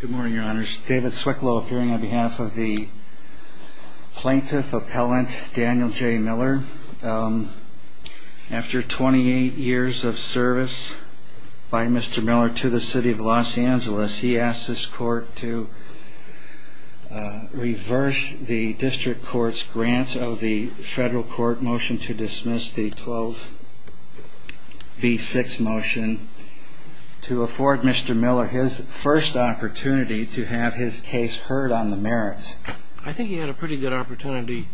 Good morning, Your Honors. David Swicklow appearing on behalf of the Plaintiff Appellant Daniel J. Miller. After 28 years of service by Mr. Miller to the City of Los Angeles, he asked this Court to reverse the District Court's grant of the federal court motion to dismiss the 12B6 motion to afford Mr. Miller his first opportunity to have his case heard on the merits. I think he had a pretty good opportunity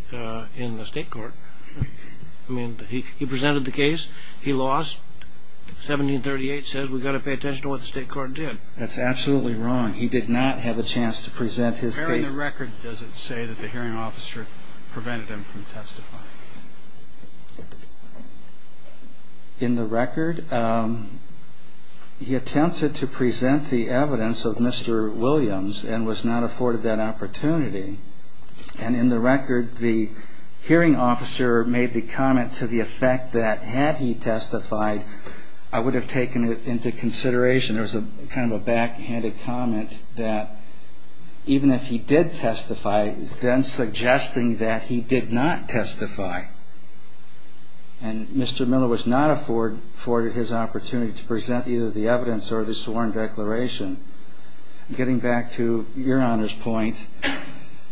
in the State Court. I mean, he presented the case, he lost, 1738 says we've got to pay attention to what the State Court did. That's absolutely wrong. He did not have a chance to present his case. Where in the record does it say that the hearing officer prevented him from testifying? In the record, he attempted to present the evidence of Mr. Williams and was not afforded that opportunity. And in the record, the hearing officer made the comment to the effect that had he testified, I would have taken it into consideration. There was a kind of a backhanded comment that even if he did testify, then suggesting that he did not testify. And Mr. Miller was not afforded his opportunity to present either the evidence or the sworn declaration. Getting back to Your Honor's point,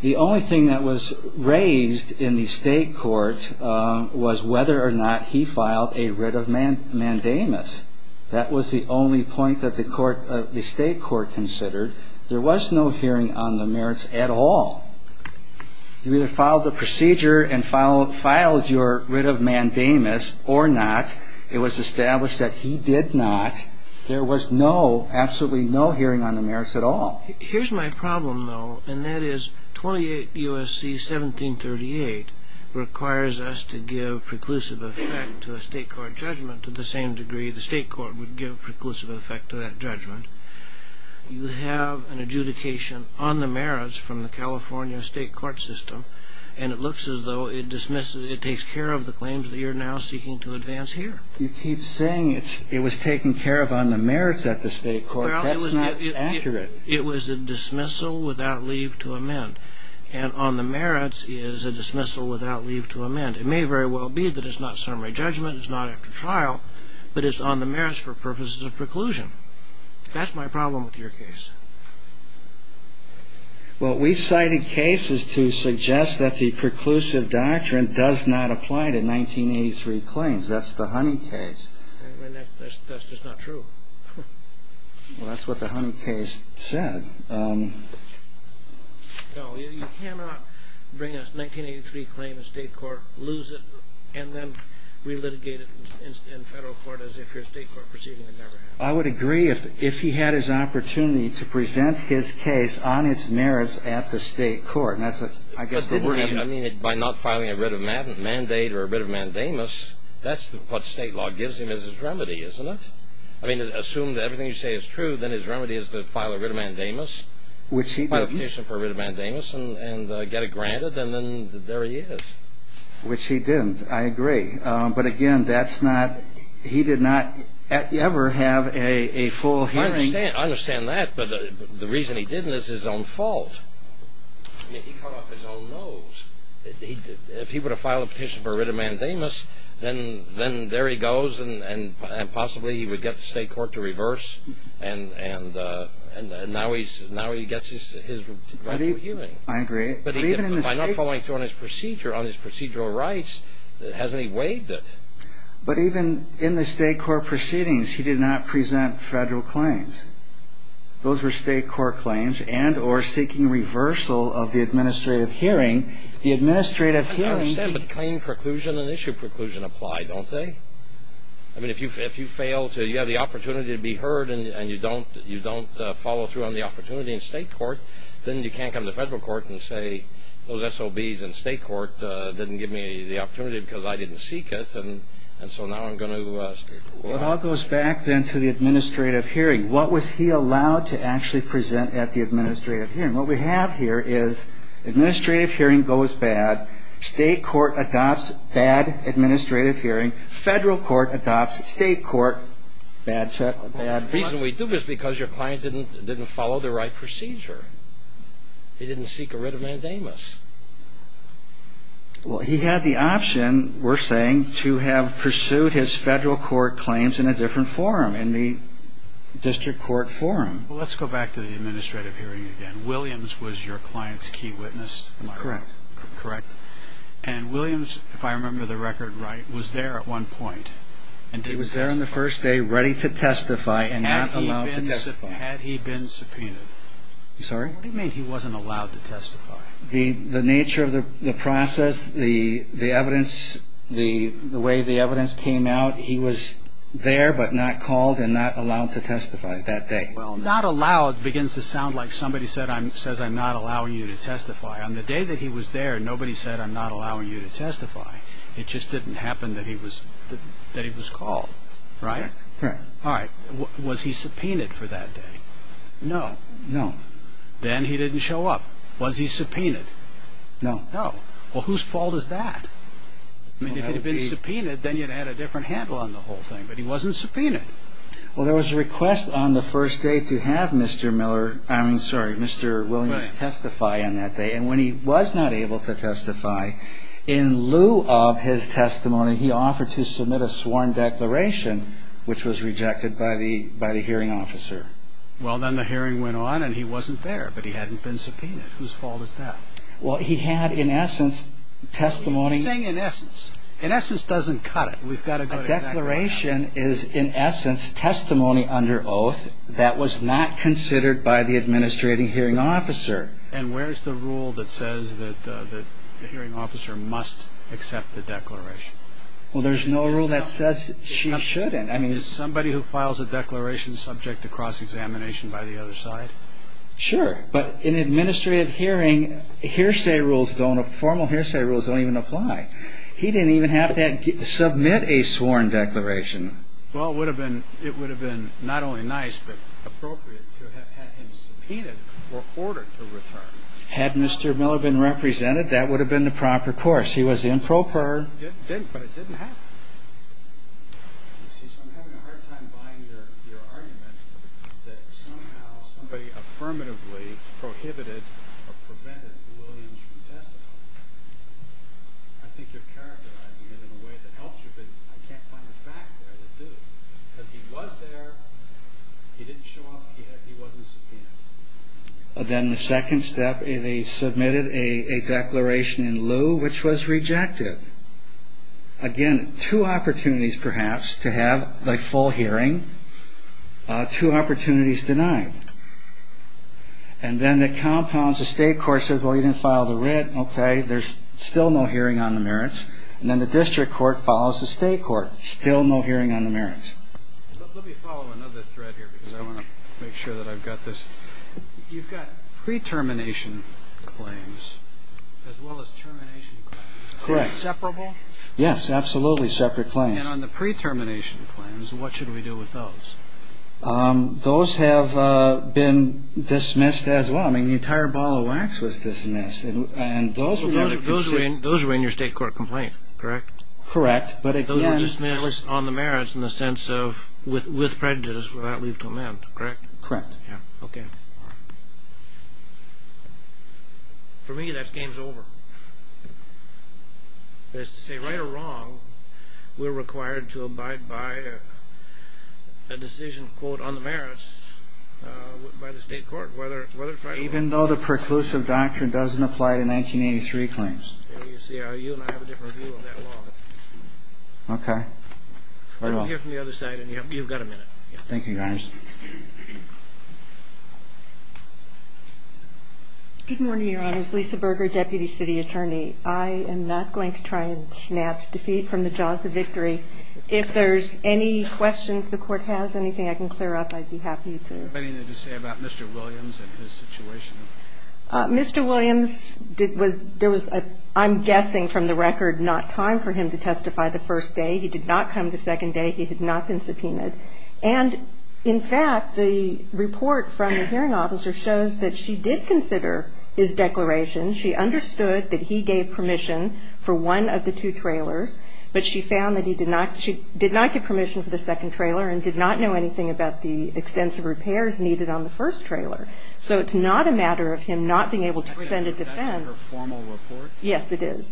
the only thing that was raised in the State Court was whether or not he filed a writ of mandamus. That was the only point that the State Court considered. There was no hearing on the merits at all. You either filed the procedure and filed your writ of mandamus or not. It was established that he did not. There was no, absolutely no hearing on the merits at all. Here's my problem, though, and that is 28 U.S.C. 1738 requires us to give preclusive effect to a State Court judgment to the same degree the State Court would give preclusive effect to that judgment. You have an adjudication on the merits from the California State Court system, and it looks as though it takes care of the claims that you're now seeking to advance here. You keep saying it was taken care of on the merits at the State Court. That's not accurate. It was a dismissal without leave to amend, and on the merits is a dismissal without leave to amend. It may very well be that it's not summary judgment, it's not after trial, but it's on the merits for purposes of preclusion. That's my problem with your case. Well, we cited cases to suggest that the preclusive doctrine does not apply to 1983 claims. That's the Honey case. That's just not true. Well, that's what the Honey case said. No, you cannot bring a 1983 claim to State Court, lose it, and then relitigate it in Federal court as if your State Court proceeding had never happened. I would agree if he had his opportunity to present his case on its merits at the State Court. I mean, by not filing a writ of mandate or a writ of mandamus, that's what State law gives him as his remedy, isn't it? I mean, assume that everything you say is true, then his remedy is to file a writ of mandamus, file a petition for a writ of mandamus, and get it granted, and then there he is. Which he didn't. I agree. But, again, he did not ever have a full hearing. I understand that, but the reason he didn't is his own fault. I mean, he cut off his own nose. If he were to file a petition for a writ of mandamus, then there he goes, and possibly he would get the State Court to reverse, and now he gets his rightful hearing. I agree. By not following through on his procedure, on his procedural rights, hasn't he waived it? But even in the State Court proceedings, he did not present Federal claims. Those were State Court claims and or seeking reversal of the administrative hearing. I understand, but claim preclusion and issue preclusion apply, don't they? I mean, if you fail to, you have the opportunity to be heard, and you don't follow through on the opportunity in State Court, then you can't come to Federal Court and say, those SOBs in State Court didn't give me the opportunity because I didn't seek it, and so now I'm going to speak. Well, it all goes back, then, to the administrative hearing. What was he allowed to actually present at the administrative hearing? What we have here is administrative hearing goes bad, State Court adopts bad administrative hearing, Federal Court adopts State Court bad procedure. The reason we do this is because your client didn't follow the right procedure. He didn't seek a writ of mandamus. Well, he had the option, we're saying, to have pursued his Federal Court claims in a different forum, in the district court forum. Well, let's go back to the administrative hearing again. Williams was your client's key witness? Correct. Correct. And Williams, if I remember the record right, was there at one point. He was there on the first day, ready to testify and not allowed to testify. Had he been subpoenaed? I'm sorry? What do you mean he wasn't allowed to testify? The nature of the process, the evidence, the way the evidence came out, he was there but not called and not allowed to testify that day. Well, not allowed begins to sound like somebody says I'm not allowing you to testify. On the day that he was there, nobody said I'm not allowing you to testify. It just didn't happen that he was called, right? Correct. All right. Was he subpoenaed for that day? No. No. Then he didn't show up. Was he subpoenaed? No. No. Well, whose fault is that? I mean, if he'd been subpoenaed, then you'd have had a different handle on the whole thing. But he wasn't subpoenaed. Well, there was a request on the first day to have Mr. Miller, I'm sorry, Mr. Williams testify on that day. And when he was not able to testify, in lieu of his testimony, he offered to submit a sworn declaration, which was rejected by the hearing officer. Well, then the hearing went on and he wasn't there, but he hadn't been subpoenaed. Whose fault is that? Well, he had, in essence, testimony. What are you saying in essence? In essence doesn't cut it. A declaration is, in essence, testimony under oath that was not considered by the administrating hearing officer. And where's the rule that says that the hearing officer must accept the declaration? Well, there's no rule that says she shouldn't. I mean, is somebody who files a declaration subject to cross-examination by the other side? Sure. But in administrative hearing, hearsay rules don't, formal hearsay rules don't even apply. He didn't even have to submit a sworn declaration. Well, it would have been not only nice, but appropriate to have had him subpoenaed or ordered to return. Had Mr. Miller been represented, that would have been the proper course. He was improper. He didn't, but it didn't happen. You see, so I'm having a hard time buying your argument that somehow somebody affirmatively prohibited or prevented Williams from testifying. I think you're characterizing it in a way that helps you, but I can't find the facts there that do. Because he was there, he didn't show up, he wasn't subpoenaed. Then the second step, they submitted a declaration in lieu, which was rejected. Again, two opportunities, perhaps, to have a full hearing. Two opportunities denied. And then the compounds, the state court says, well, you didn't file the writ, okay, there's still no hearing on the merits. And then the district court follows the state court. Still no hearing on the merits. Let me follow another thread here, because I want to make sure that I've got this. You've got pre-termination claims as well as termination claims. Correct. Are they separable? Yes, absolutely, separate claims. And on the pre-termination claims, what should we do with those? Those have been dismissed as well. I mean, the entire ball of wax was dismissed. And those were in your state court complaint, correct? Correct. Those were dismissed on the merits in the sense of with prejudice without leave to amend, correct? Correct. Okay. For me, that game's over. That is to say, right or wrong, we're required to abide by a decision, quote, on the merits by the state court, whether it's right or wrong. Even though the preclusive doctrine doesn't apply to 1983 claims. I'm not going to try and snatch defeat from the jaws of victory. If there's any questions the court has, anything I can clear up, I'd be happy to. Anything to say about Mr. Williams and his situation? Mr. Williams, there was a pre-termination claim. I'm guessing from the record not time for him to testify the first day. He did not come the second day. He had not been subpoenaed. And, in fact, the report from the hearing officer shows that she did consider his declaration. She understood that he gave permission for one of the two trailers, but she found that he did not get permission for the second trailer and did not know anything about the extensive repairs needed on the first trailer. So it's not a matter of him not being able to present a defense. That's in her formal report? Yes, it is.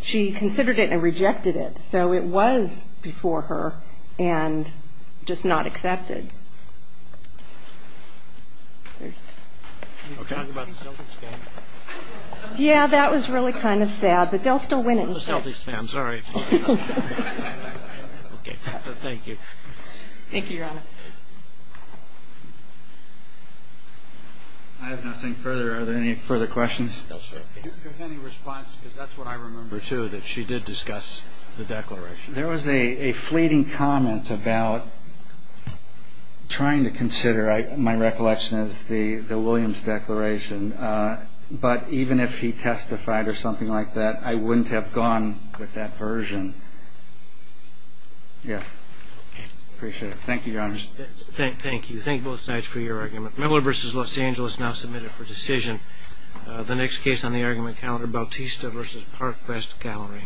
She considered it and rejected it. So it was before her and just not accepted. Can you talk about the selfies, guys? Yeah, that was really kind of sad, but they'll still win it. The selfies, ma'am. Sorry. Okay. Thank you. Thank you, Your Honor. I have nothing further. Are there any further questions? No, sir. Do you have any response? Because that's what I remember, too, that she did discuss the declaration. There was a fleeting comment about trying to consider. My recollection is the Williams declaration. But even if he testified or something like that, I wouldn't have gone with that version. Yes. Appreciate it. Thank you, Your Honor. Thank you. Thank both sides for your argument. Memoir v. Los Angeles now submitted for decision. The next case on the argument calendar, Bautista v. Parkwest Gallery.